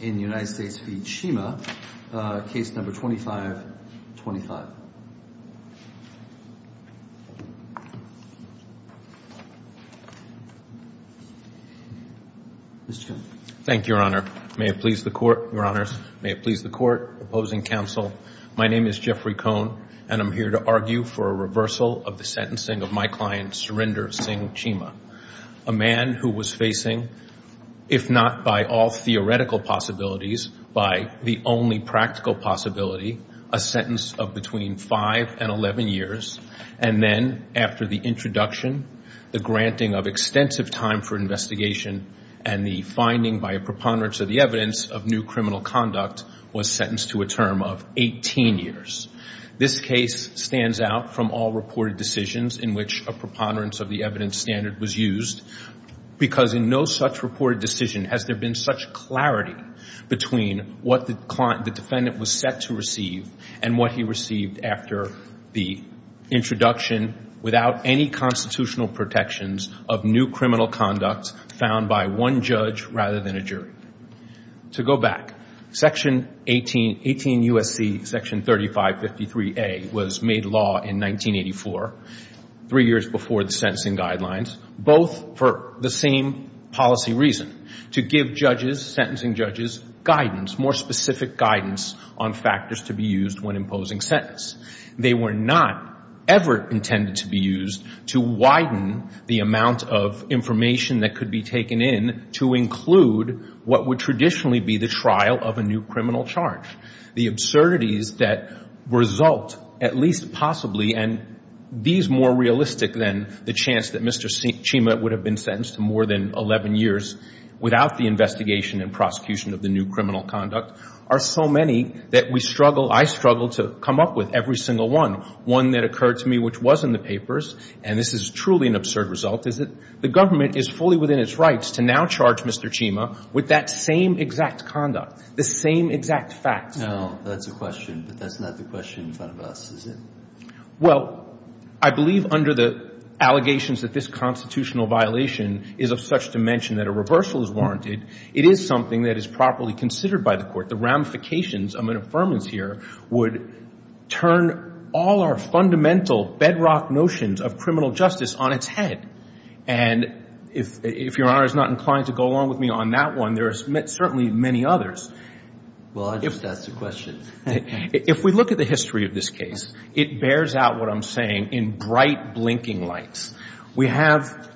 in the United States v. Chima, case number 2525. Mr. Chairman. Thank you, Your Honor. May it please the Court, Your Honors. May it please the Court. Opposing counsel, my name is Jeffrey Cohn, and I'm here to argue for a reversal of the sentencing of my client Surinder Singh Chima, a man who was facing, if not by all theoretical possibilities, by the only practical possibility, a sentence of between 5 and 11 years, and then, after the introduction, the granting of extensive time for investigation and the finding by a preponderance of the evidence of new criminal conduct was sentenced to a term of 18 years. This case stands out from all reported decisions in which a preponderance of the evidence standard was used, because in no such reported decision has there been such clarity between what the defendant was set to receive and what he received after the introduction without any constitutional protections of new criminal conduct found by one judge rather than a jury. To go back, Section 18 U.S.C., Section 3553A, was made law in 1984, three years before the sentencing guidelines, both for the same policy reason, to give judges, sentencing judges, guidance, more specific guidance on factors to be used when imposing sentence. They were not ever intended to be used to widen the amount of information that could be taken in to include what would traditionally be the trial of a new criminal charge. The absurdities that result, at least possibly, and these more realistic than the chance that Mr. Chima would have been sentenced to more than 11 years without the investigation and prosecution of the new criminal conduct, are so many that we struggle, I struggle, to come up with every single one. One that occurred to me, which was in the papers, and this is truly an absurd result, is that the government is fully within its rights to now charge Mr. Chima with that same exact conduct, the same exact facts. Now, that's a question, but that's not the question in front of us, is it? Well, I believe under the allegations that this constitutional violation is of such dimension that a reversal is warranted, it is something that is properly considered by the Court. The ramifications of an affirmance here would turn all our fundamental bedrock notions of criminal justice on its head. And if Your Honor is not inclined to go along with me on that one, there are certainly many others. Well, I just asked a question. If we look at the history of this case, it bears out what I'm saying in bright, blinking lights. We have,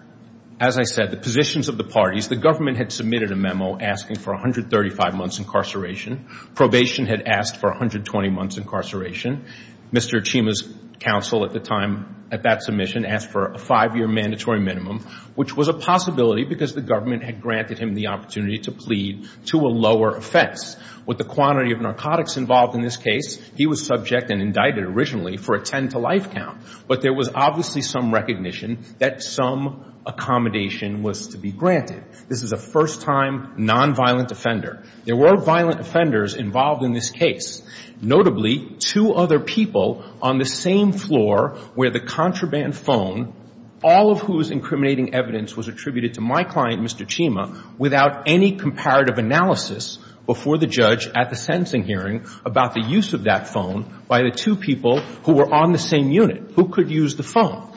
as I said, the positions of the parties. The government had submitted a memo asking for 135 months incarceration. Probation had asked for 120 months incarceration. Mr. Chima's counsel at the time, at that submission, asked for a five-year mandatory minimum, which was a possibility because the government had granted him the opportunity to plead to a lower offense. With the quantity of narcotics involved in this case, he was subject and indicted originally for a 10-to-life count. But there was obviously some recognition that some accommodation was to be granted. This is a first-time nonviolent offender. There were violent offenders involved in this case, notably two other people on the same floor where the contraband phone, all of whose incriminating evidence was attributed to my client, Mr. Chima, without any comparative analysis before the judge at the sentencing hearing about the use of that phone by the two people who were on the same unit who could use the phone.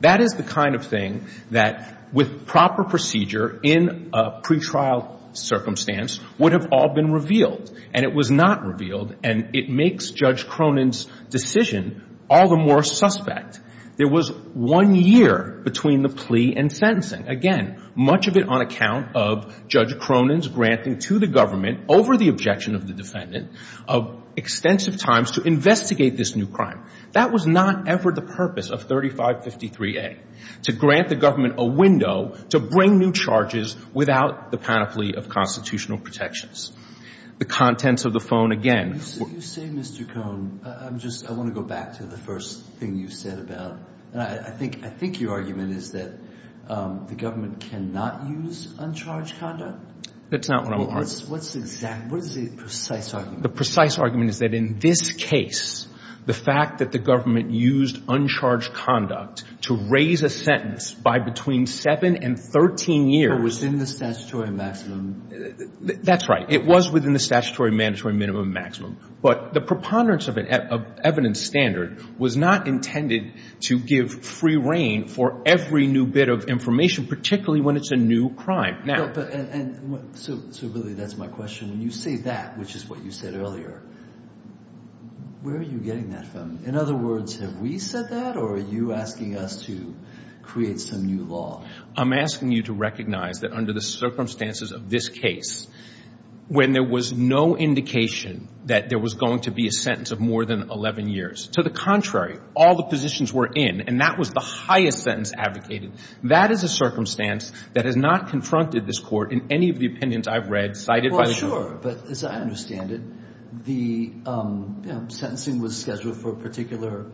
That is the kind of thing that, with proper procedure in a pretrial circumstance, would have all been revealed. And it was not revealed, and it makes Judge Cronin's decision all the more suspect. There was one year between the plea and sentencing. Again, much of it on account of Judge Cronin's granting to the government over the objection of the defendant of extensive times to investigate this new crime. That was not ever the purpose of 3553A, to grant the government a window to bring new charges without the panoply of constitutional protections. The contents of the phone, again, were — You say, Mr. Cohn, I'm just — I want to go back to the first thing you said about the government. I think — I think your argument is that the government cannot use uncharged conduct? That's not what I'm — Well, what's the exact — what is the precise argument? The precise argument is that in this case, the fact that the government used uncharged conduct to raise a sentence by between 7 and 13 years — But within the statutory maximum. That's right. It was within the statutory mandatory minimum and maximum. But the preponderance of evidence standard was not intended to give free reign for every new bit of information, particularly when it's a new crime. No, but — and — so, really, that's my question. When you say that, which is what you said earlier, where are you getting that from? In other words, have we said that, or are you asking us to create some new law? I'm asking you to recognize that under the circumstances of this case, when there was no indication that there was going to be a sentence of more than 11 years. To the contrary, all the positions were in, and that was the highest sentence advocated. That is a circumstance that has not confronted this Court in any of the opinions I've read cited by the — Well, sure. But as I understand it, the sentencing was scheduled for a particular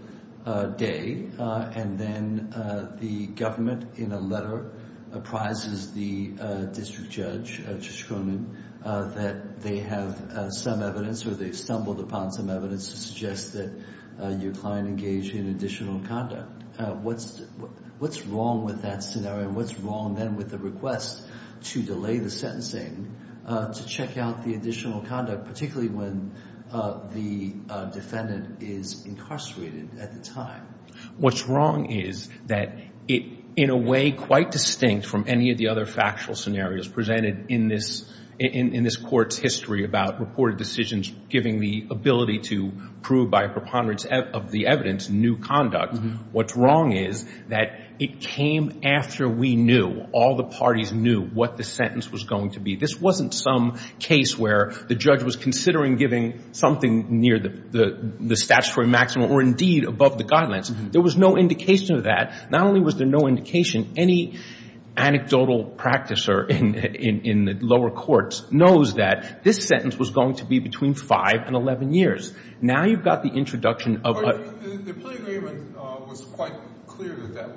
day, and then the government, in a letter, apprises the district judge, Judge Cronin, that they have some evidence, or they've stumbled upon some evidence to suggest that your client engaged in additional conduct. What's wrong with that scenario, and what's wrong, then, with the request to delay the sentencing to check out the additional conduct, particularly when the defendant is incarcerated at the time? What's wrong is that it, in a way quite distinct from any of the other factual scenarios presented in this Court's history about reported decisions giving the ability to prove by a preponderance of the evidence new conduct. What's wrong is that it came after we knew, all the parties knew, what the sentence was going to be. This wasn't some case where the judge was considering giving something near the statutory maximum, or indeed above the guidelines. There was no indication of that. Not only was there no indication, any anecdotal practicer in the lower courts knows that this sentence was going to be between five and 11 years. Now you've got the introduction of... The plea agreement was quite clear that that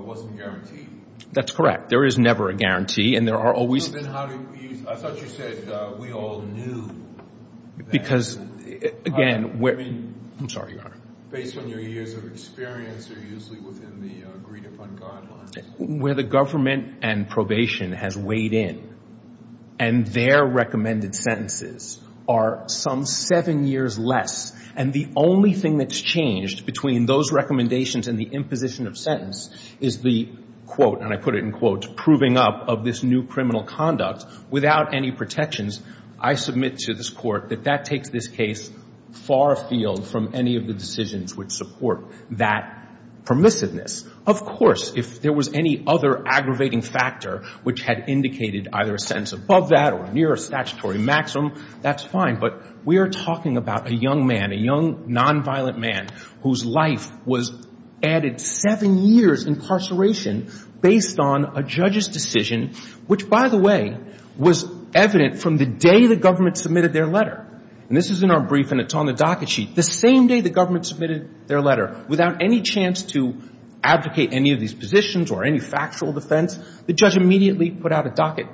wasn't guaranteed. That's correct. There is never a guarantee, and there are always... Then how did you... I thought you said we all knew that... Because, again... I'm sorry, Your Honor. Based on your years of experience, or usually within the agreed-upon guidelines? Where the government and probation has weighed in, and their recommended sentences are some seven years less, and the only thing that's changed between those recommendations and the imposition of sentence is the quote, and I put it in quotes, proving up of this new criminal conduct without any protections. I submit to this Court that that takes this case far afield from any of the decisions which support that permissiveness. Of course, if there was any other aggravating factor which had indicated either a sentence above that or near a statutory maximum, that's fine. But we are talking about a young man, a young nonviolent man, whose life was added seven years incarceration based on a judge's decision, which, by the way, was evident from the day the government submitted their letter. And this is in our brief, and it's on the docket sheet. The same day the government submitted their letter, without any chance to advocate any of these positions or any factual defense, the judge immediately put out a docket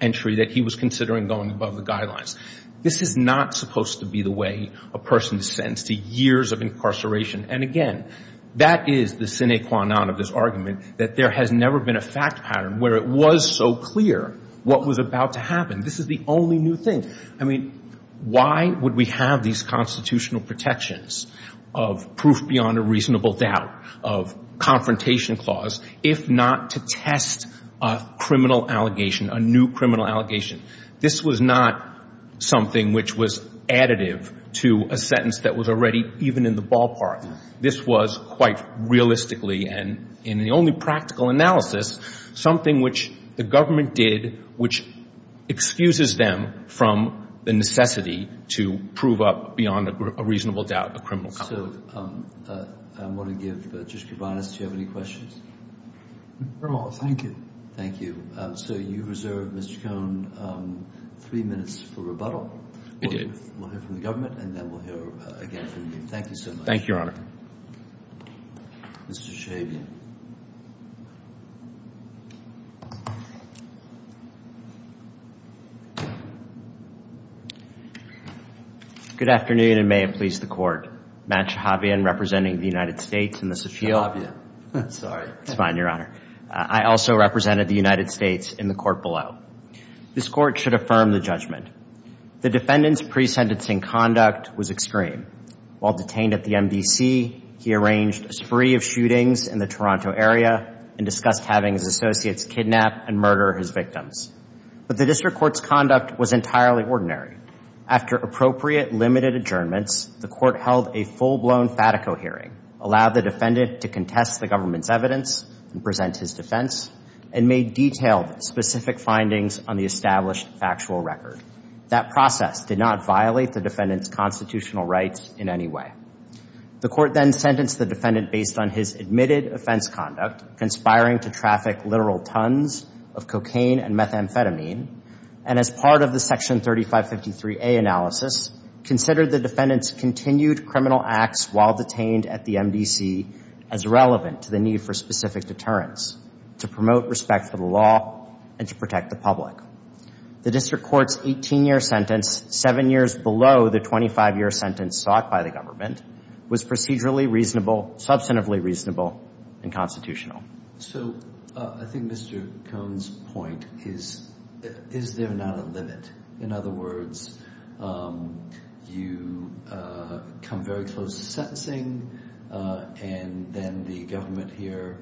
entry that he was considering going above the guidelines. This is not supposed to be the way a person is sentenced to years of incarceration. And, again, that is the sine qua non of this argument, that there has never been a fact pattern where it was so clear what was about to happen. This is the only new thing. Why would we have these constitutional protections of proof beyond a reasonable doubt, of confrontation clause, if not to test a criminal allegation, a new criminal allegation? This was not something which was additive to a sentence that was already even in the ballpark. This was quite realistically, and in the only practical analysis, something which the government did which excuses them from the necessity to prove up beyond a reasonable doubt a criminal conflict. So I want to give, just to be honest, do you have any questions? No, thank you. Thank you. So you reserve, Mr. Cohn, three minutes for rebuttal. We'll hear from the government, and then we'll hear again from you. Thank you so much. Thank you, Your Honor. Mr. Shabian. Good afternoon, and may it please the Court. Matt Shabian, representing the United States in this appeal. Mr. Shabian. Sorry. It's fine, Your Honor. I also represented the United States in the court below. This court should affirm the judgment. The defendant's pre-sentencing conduct was extreme. While detained at the MDC, he arranged a spree of shootings in the Toronto area and discussed having his associates kidnap and murder his victims. But the district court's conduct was entirely ordinary. After appropriate, limited adjournments, the court held a full-blown fatico hearing, allowed the defendant to contest the government's evidence and present his defense, and made detailed, specific findings on the established factual record. That process did not violate the defendant's constitutional rights in any way. The court then sentenced the defendant based on his admitted offense conduct, conspiring to traffic literal tons of cocaine and methamphetamine, and as part of the Section 3553A analysis, considered the defendant's continued criminal acts while detained at the MDC as relevant to the need for specific deterrence to promote respect for the law and to protect the public. The district court's 18-year sentence, seven years below the 25-year sentence sought by the government, was procedurally reasonable, substantively reasonable, and constitutional. So I think Mr. Cohn's point is, is there not a limit? In other words, you come very close to sentencing and then the government here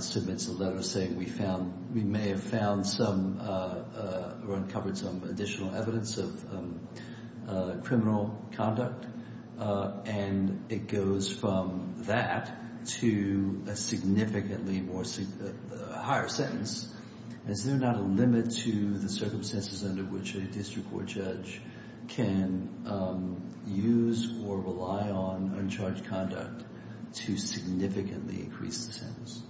submits a letter saying we may have found or uncovered some additional evidence of criminal conduct, and it goes from that to a significantly higher sentence. Is there not a limit to the circumstances under which a district court judge can use or rely on uncharged conduct to significantly increase the sentence?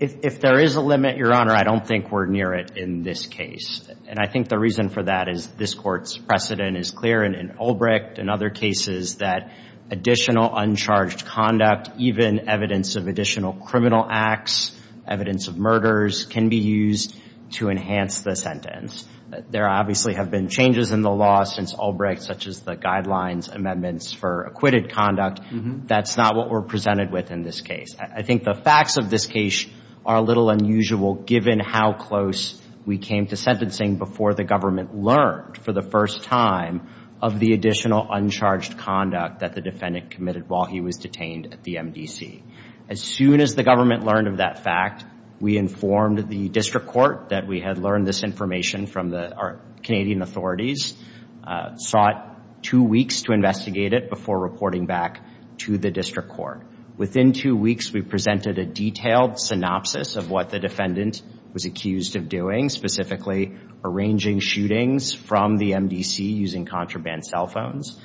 If there is a limit, Your Honor, I don't think we're near it in this case. And I think the reason for that is this court's precedent is clear, and in Ulbricht and other cases, that additional uncharged conduct, even evidence of additional criminal acts, evidence of murders, can be used to enhance the sentence. There obviously have been changes in the law since Ulbricht, such as the guidelines amendments for acquitted conduct. That's not what we're presented with in this case. I think the facts of this case are a little unusual given how close we came to sentencing before the government learned for the first time of the additional uncharged conduct that the defendant committed while he was detained at the MDC. As soon as the government learned of that fact, we informed the district court that we had learned this information from our Canadian authorities, sought two weeks to investigate it before reporting back to the district court. Within two weeks, we presented a detailed synopsis of what the defendant was accused of doing, specifically arranging shootings from the MDC using contraband cell phones.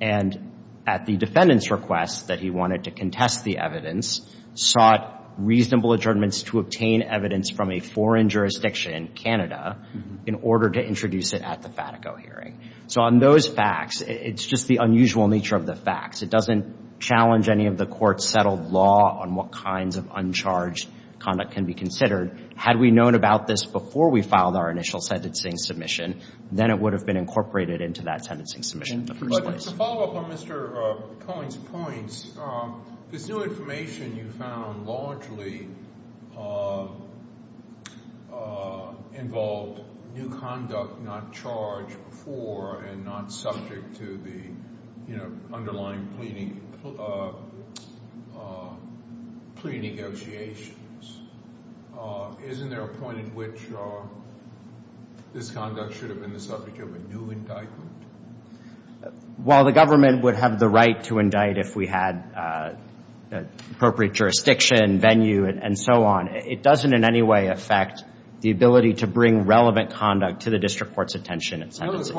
And at the defendant's request that he wanted to contest the evidence, sought reasonable adjournments to obtain evidence from a foreign jurisdiction, Canada, in order to introduce it at the Fatico hearing. So on those facts, it's just the unusual nature of the facts. It doesn't challenge any of the court's settled law on what kinds of uncharged conduct can be considered. Had we known about this before we filed our initial sentencing submission, then it would have been incorporated into that sentencing submission in the first place. But to follow up on Mr. Cohen's points, this new information you found largely involved new conduct not charged before and not subject to the underlying pre-negotiations. Isn't there a point at which this conduct should have been the subject of a new indictment? While the government would have the right to indict if we had appropriate jurisdiction, venue, and so on, it doesn't in any way affect the ability to bring relevant conduct to the district court's attention in sentencing.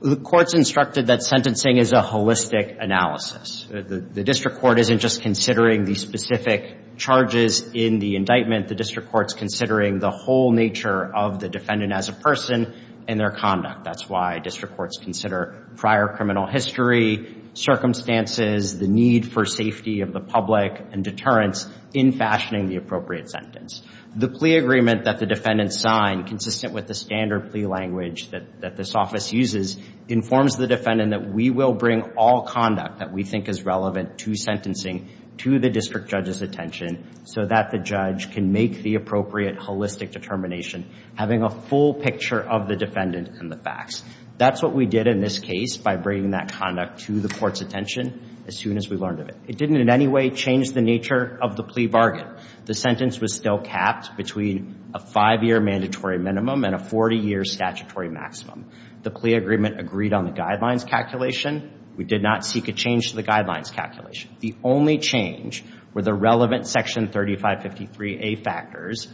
The court's instructed that sentencing is a holistic analysis. The district court isn't just considering the specific charges in the indictment. The district court's considering the whole nature of the defendant as a person and their conduct. That's why district courts consider prior criminal history, circumstances, the need for safety of the public, and deterrence in fashioning the appropriate sentence. The plea agreement that the defendant signed, consistent with the standard plea language that this office uses, informs the defendant that we will bring all conduct that we think is relevant to sentencing to the district judge's attention so that the judge can make the appropriate holistic determination, having a full picture of the defendant and the facts. That's what we did in this case by bringing that conduct to the court's attention as soon as we learned of it. It didn't in any way change the nature of the plea bargain. The sentence was still capped between a five-year mandatory minimum and a 40-year statutory maximum. The plea agreement agreed on the guidelines calculation. We did not seek a change to the guidelines calculation. The only change were the relevant Section 3553A factors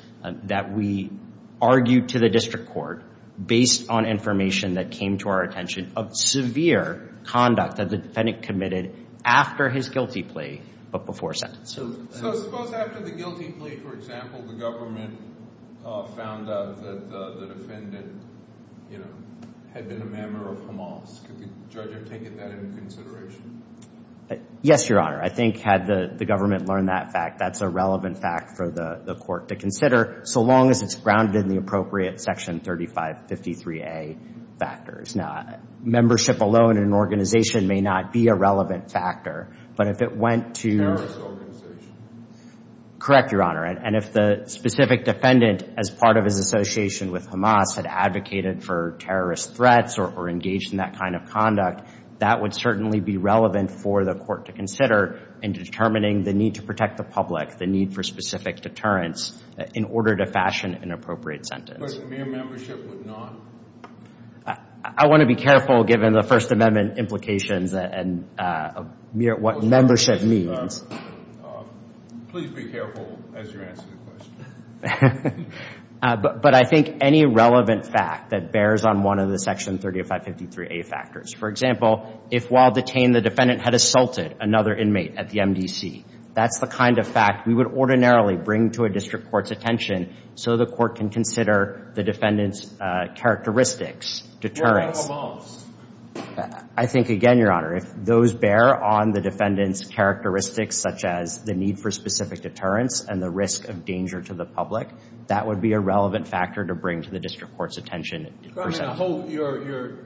that we argued to the district court based on information that came to our attention of severe conduct that the defendant committed after his guilty plea, but before sentence. So suppose after the guilty plea, for example, the government found out that the defendant had been a member of Hamas. Could the judge have taken that into consideration? Yes, Your Honor. I think had the government learned that fact, that's a relevant fact for the court to consider, so long as it's grounded in the appropriate Section 3553A factors. Membership alone in an organization may not be a relevant factor, but if it went to a terrorist organization. Correct, Your Honor. And if the specific defendant, as part of his association with Hamas, had advocated for terrorist threats or engaged in that kind of conduct, that would certainly be relevant for the court to consider in determining the need to protect the public, the need for specific deterrence in order to fashion an appropriate sentence. But mere membership would not? I want to be careful given the First Amendment implications and what membership means. Please be careful as you answer the question. But I think any relevant fact that bears on one of the Section 3553A factors. For example, if while detained the defendant had assaulted another inmate at the MDC, that's the kind of fact we would ordinarily bring to a district court's attention so the court can consider the defendant's characteristics, deterrence. What about Hamas? I think again, Your Honor, if those bear on the defendant's characteristics such as the need for specific deterrence and the risk of danger to the public, that would be a relevant factor to bring to the district court's attention. Your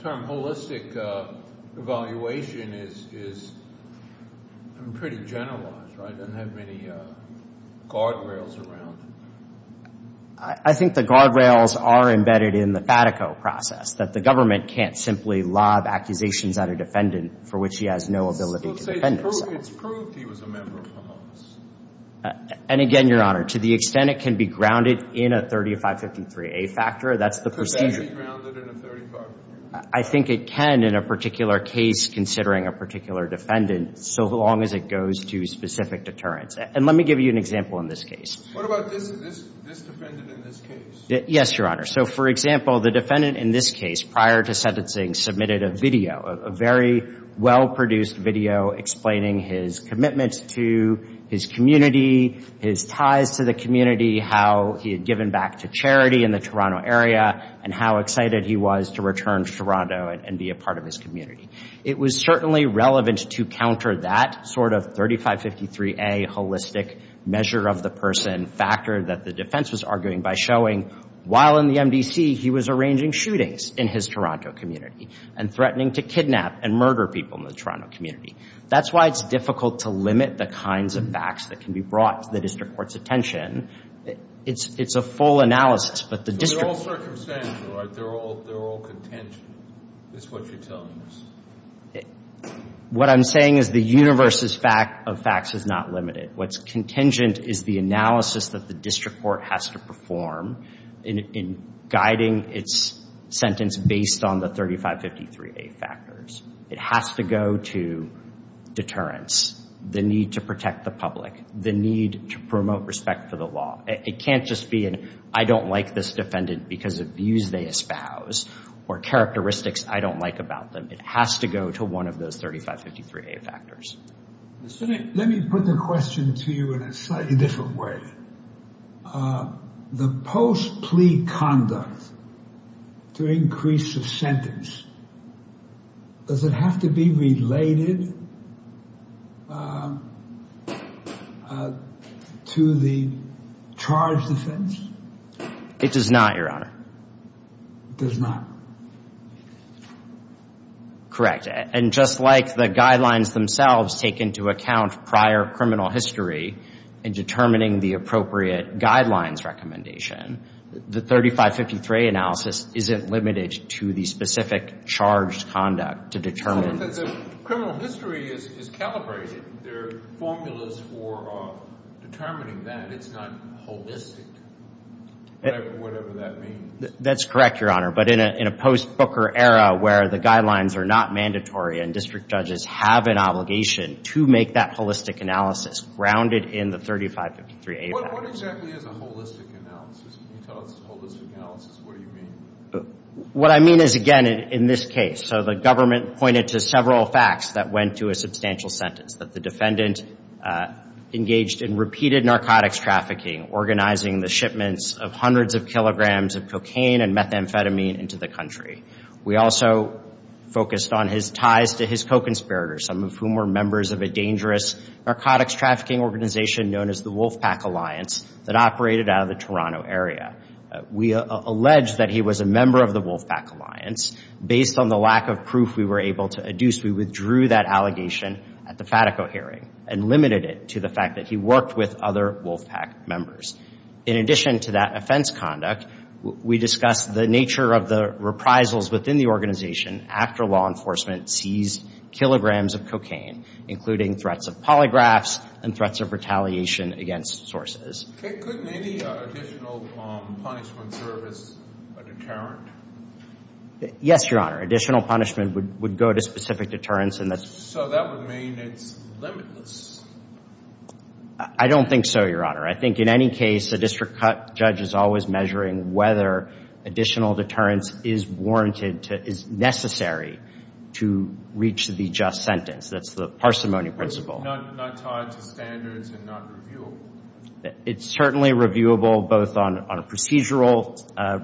term holistic evaluation is pretty generalized, right? Doesn't have many guardrails around. I think the guardrails are embedded in the FATICO process that the government can't simply lob accusations at a defendant for which he has no ability to defend himself. It's proved he was a member of Hamas. And again, Your Honor, to the extent it can be grounded in a 3553A factor, that's the procedure. Could that be grounded in a 3553A? I think it can in a particular case considering a particular defendant so long as it goes to specific deterrence. And let me give you an example in this case. What about this defendant in this case? Yes, Your Honor. So for example, the defendant in this case prior to sentencing submitted a video, a very well-produced video explaining his commitment to his community, his ties to the community, how he had given back to charity in the Toronto area, and how excited he was to return to Toronto and be a part of his community. It was certainly relevant to counter that sort of 3553A holistic measure of the person factor that the defense was arguing by showing while in the MDC he was arranging shootings in his Toronto community and threatening to kidnap and murder people in the Toronto community. That's why it's difficult to limit the kinds of facts that can be brought to the district court's attention. It's a full analysis, but the district court What you're saying, Your Honor, they're all contingent. That's what you're telling us. What I'm saying is the universe of facts is not limited. What's contingent is the analysis that the district court has to perform in guiding its sentence based on the 3553A factors. It has to go to deterrence, the need to protect the public, the need to promote respect for the law. It can't just be an I don't like this defendant because of views they espouse or characteristics I don't like about them. It has to go to one of those 3553A factors. Let me put the question to you in a slightly different way. The post plea conduct to increase the sentence does it have to be related to the charge defense? It does not, Your Honor. It does not. Correct. And just like the guidelines themselves take into account prior criminal history in determining the appropriate guidelines recommendation, the 3553A analysis isn't limited to the specific charged conduct to determine. So the criminal history is calibrated. There are formulas for determining that. It's not holistic whatever that means. That's correct, Your Honor. But in a post-Booker era where the guidelines are not mandatory and district judges have an obligation to make that holistic analysis grounded in the 3553A. What exactly is a holistic analysis? Can you tell us a holistic analysis? What do you mean? What I mean is again in this case. So the government pointed to several facts that went to a substantial sentence. That the defendant engaged in repeated narcotics trafficking, organizing the shipments of hundreds of kilograms of cocaine and methamphetamine into the country. We also focused on his ties to his co-conspirators, some of whom were members of a dangerous narcotics trafficking organization known as the Wolfpack Alliance that operated out of the Toronto area. We allege that he was a member of the Wolfpack Alliance. Based on the lack of proof we were able to adduce, we withdrew that allegation at the Fatico hearing and limited it to the fact that he worked with other Wolfpack members. In addition to that offense conduct, we discussed the nature of the reprisals within the organization after law enforcement seized kilograms of cocaine including threats of polygraphs and threats of retaliation against sources. Could any additional punishment service a deterrent? Yes, Your Honor. Additional punishment would go to specific deterrence and that's So that would mean it's limitless? I don't think so, Your Honor. I think in any case a district judge is always measuring whether additional deterrence is warranted to, is necessary to reach the just sentence. That's the parsimony principle. Not tied to standards and not reviewable? It's certainly reviewable both on procedural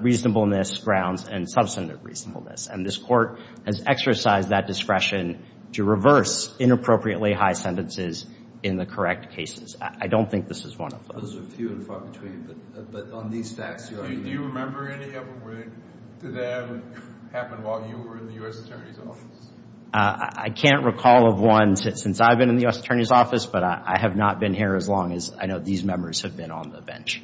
reasonableness grounds and substantive reasonableness. And this court has exercised that discretion to reverse inappropriately high sentences in the correct cases. I don't think this is one of those. Those are few and far between but on these stats, Your Honor. Do you remember any of them where that happened while you were in the U.S. Attorney's office? I can't recall of one since I've been in the U.S. Attorney's office but I have not been here as long as I know these members have been on the bench.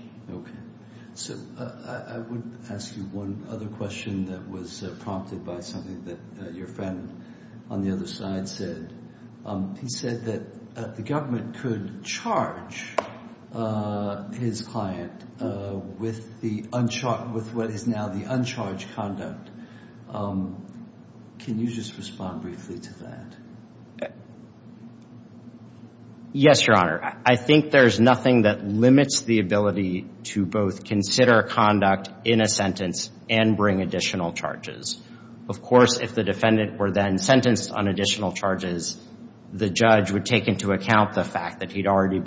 I would ask you one other question that was prompted by something that your friend on the other side said. He said that the government could charge his client with what is now the uncharged conduct. Can you just respond briefly to that? Yes, Your Honor. I think there's nothing that limits the ability to both consider conduct in a sentence and bring additional charges. Of course if the defendant were then sentenced on additional charges the judge would take into account the fact that he'd already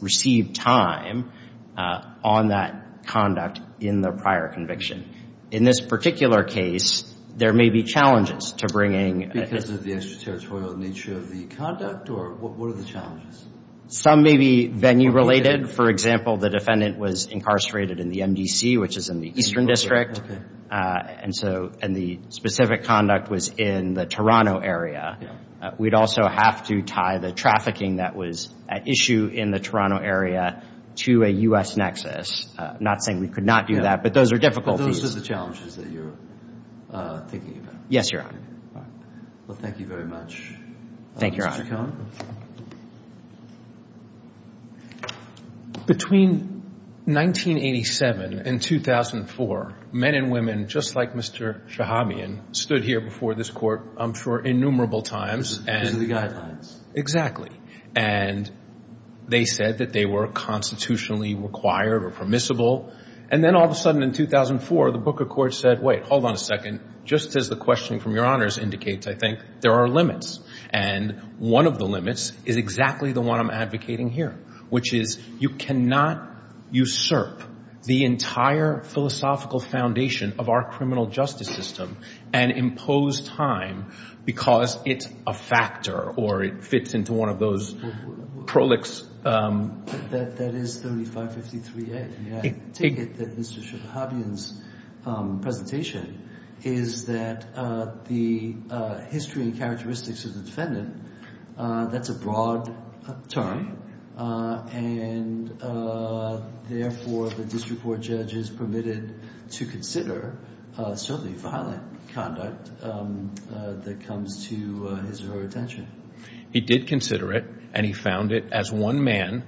received time on that conduct in the prior conviction. In this particular case, there may be challenges because of the extraterritorial nature of the conduct or what are the challenges? Some may be venue related. For example, the defendant was incarcerated in the MDC which is in the Eastern District and the specific conduct was in the Toronto area. We'd also have to tie the trafficking that was at issue in the Toronto area to a U.S. nexus. I'm not saying we could not do that but those are difficulties. Those are the challenges that you're thinking about? Yes, Your Honor. Thank you very much. Between 1987 and 2004 men and women just like Mr. Shahabian stood here before this Court I'm sure innumerable times and they said that they were constitutionally required or permissible and then all of a sudden in 2004 the Book of Courts said, wait, hold on a second, just as the questioning from Your Honors indicates I think there are limits and one of the limits is exactly the one I'm advocating here which is you cannot usurp the entire philosophical foundation of our criminal justice system and impose time because it's a factor or it fits into one of those prolix That is 3553A I take it that Mr. Shahabian's presentation is that the history and characteristics of the defendant that's a broad term and therefore the district court judge is permitted to consider certainly violent conduct that comes to his or her attention. He did consider it and he found it as one man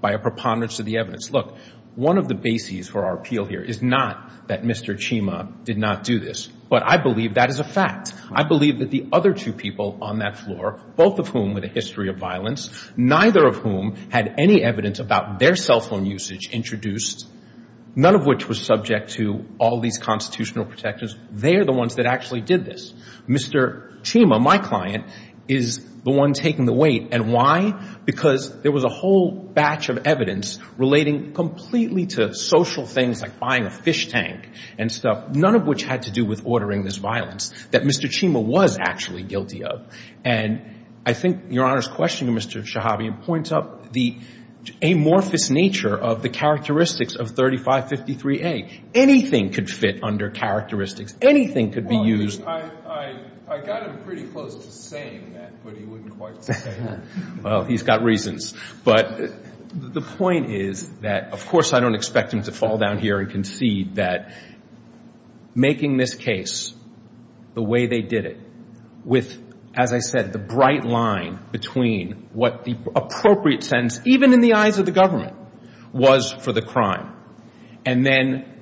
by a preponderance of the evidence. Look, one of the bases for our appeal here is not that Mr. Chima did not do this, but I believe that is a fact. I believe that the other two people on that floor both of whom with a history of violence, neither of whom had any evidence about their cell phone usage introduced none of which was subject to all these constitutional protections. They are the ones that actually did this. Mr. Chima, my client, is the one taking the weight. And why? Because there was a whole batch of evidence relating completely to social things like buying a fish tank and stuff none of which had to do with ordering this violence that Mr. Chima was actually guilty of. And I think Your Honor's question to Mr. Shahabian points up the amorphous nature of the characteristics of 3553A. Anything could fit under Well, I got him pretty close to saying that but he wouldn't quite say it. Well, he's got reasons. But the point is that of course I don't expect him to fall down here and concede that making this case the way they did it, with as I said, the bright line between what the appropriate sentence, even in the eyes of the government was for the crime. And then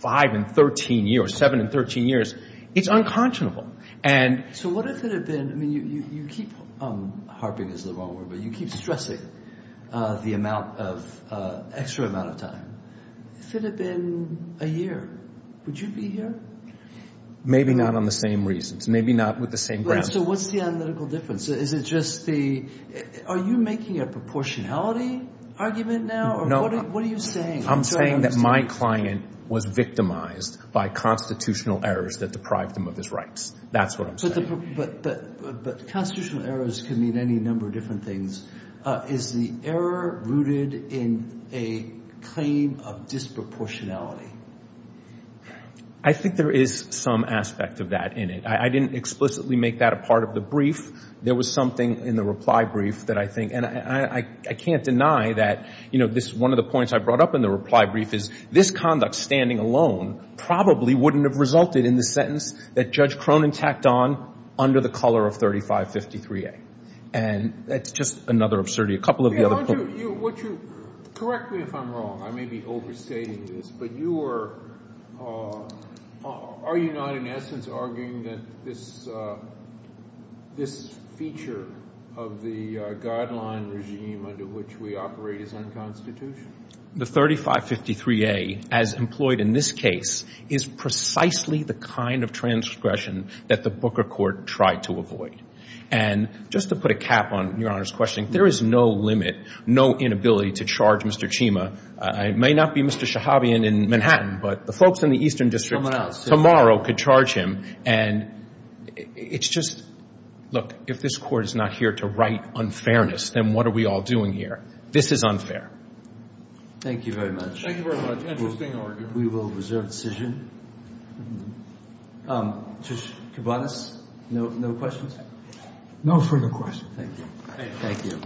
five and 13 years, seven and 13 years it's unconscionable. So what if it had been you keep, harping is the wrong word, but you keep stressing the amount of extra amount of time. If it had been a year would you be here? Maybe not on the same reasons. Maybe not with the same grounds. So what's the analytical difference? Is it just the are you making a proportionality argument now? What are you saying? I'm saying that my client was victimized by constitutional errors that deprived him of his rights. That's what I'm saying. Constitutional errors can mean any number of different things. Is the error rooted in a claim of disproportionality? I think there is some aspect of that in it. I didn't explicitly make that a part of the brief. There was something in the reply brief that I think, and I can't deny that one of the points I brought up in the reply brief is this conduct standing alone probably wouldn't have resulted in the sentence that Judge Cronin tacked on under the color of 3553A. And that's just another absurdity. Correct me if I'm wrong. I may be overstating this. Are you not in essence arguing that this feature of the guideline regime under which we operate is unconstitutional? The 3553A, as employed in this case, is precisely the kind of transgression that the Booker Court tried to avoid. And just to put a cap on Your Honor's questioning, there is no limit, no inability to charge Mr. Chima. It may not be Mr. Shahabian in Manhattan, but the folks in the Eastern District tomorrow could charge him. And it's just, look, if this Court is not here to right unfairness, then what are we all doing here? This is unfair. Thank you very much. Thank you very much. Interesting argument. We will reserve decision. Judge Kibanis, no questions? No further questions. Thank you.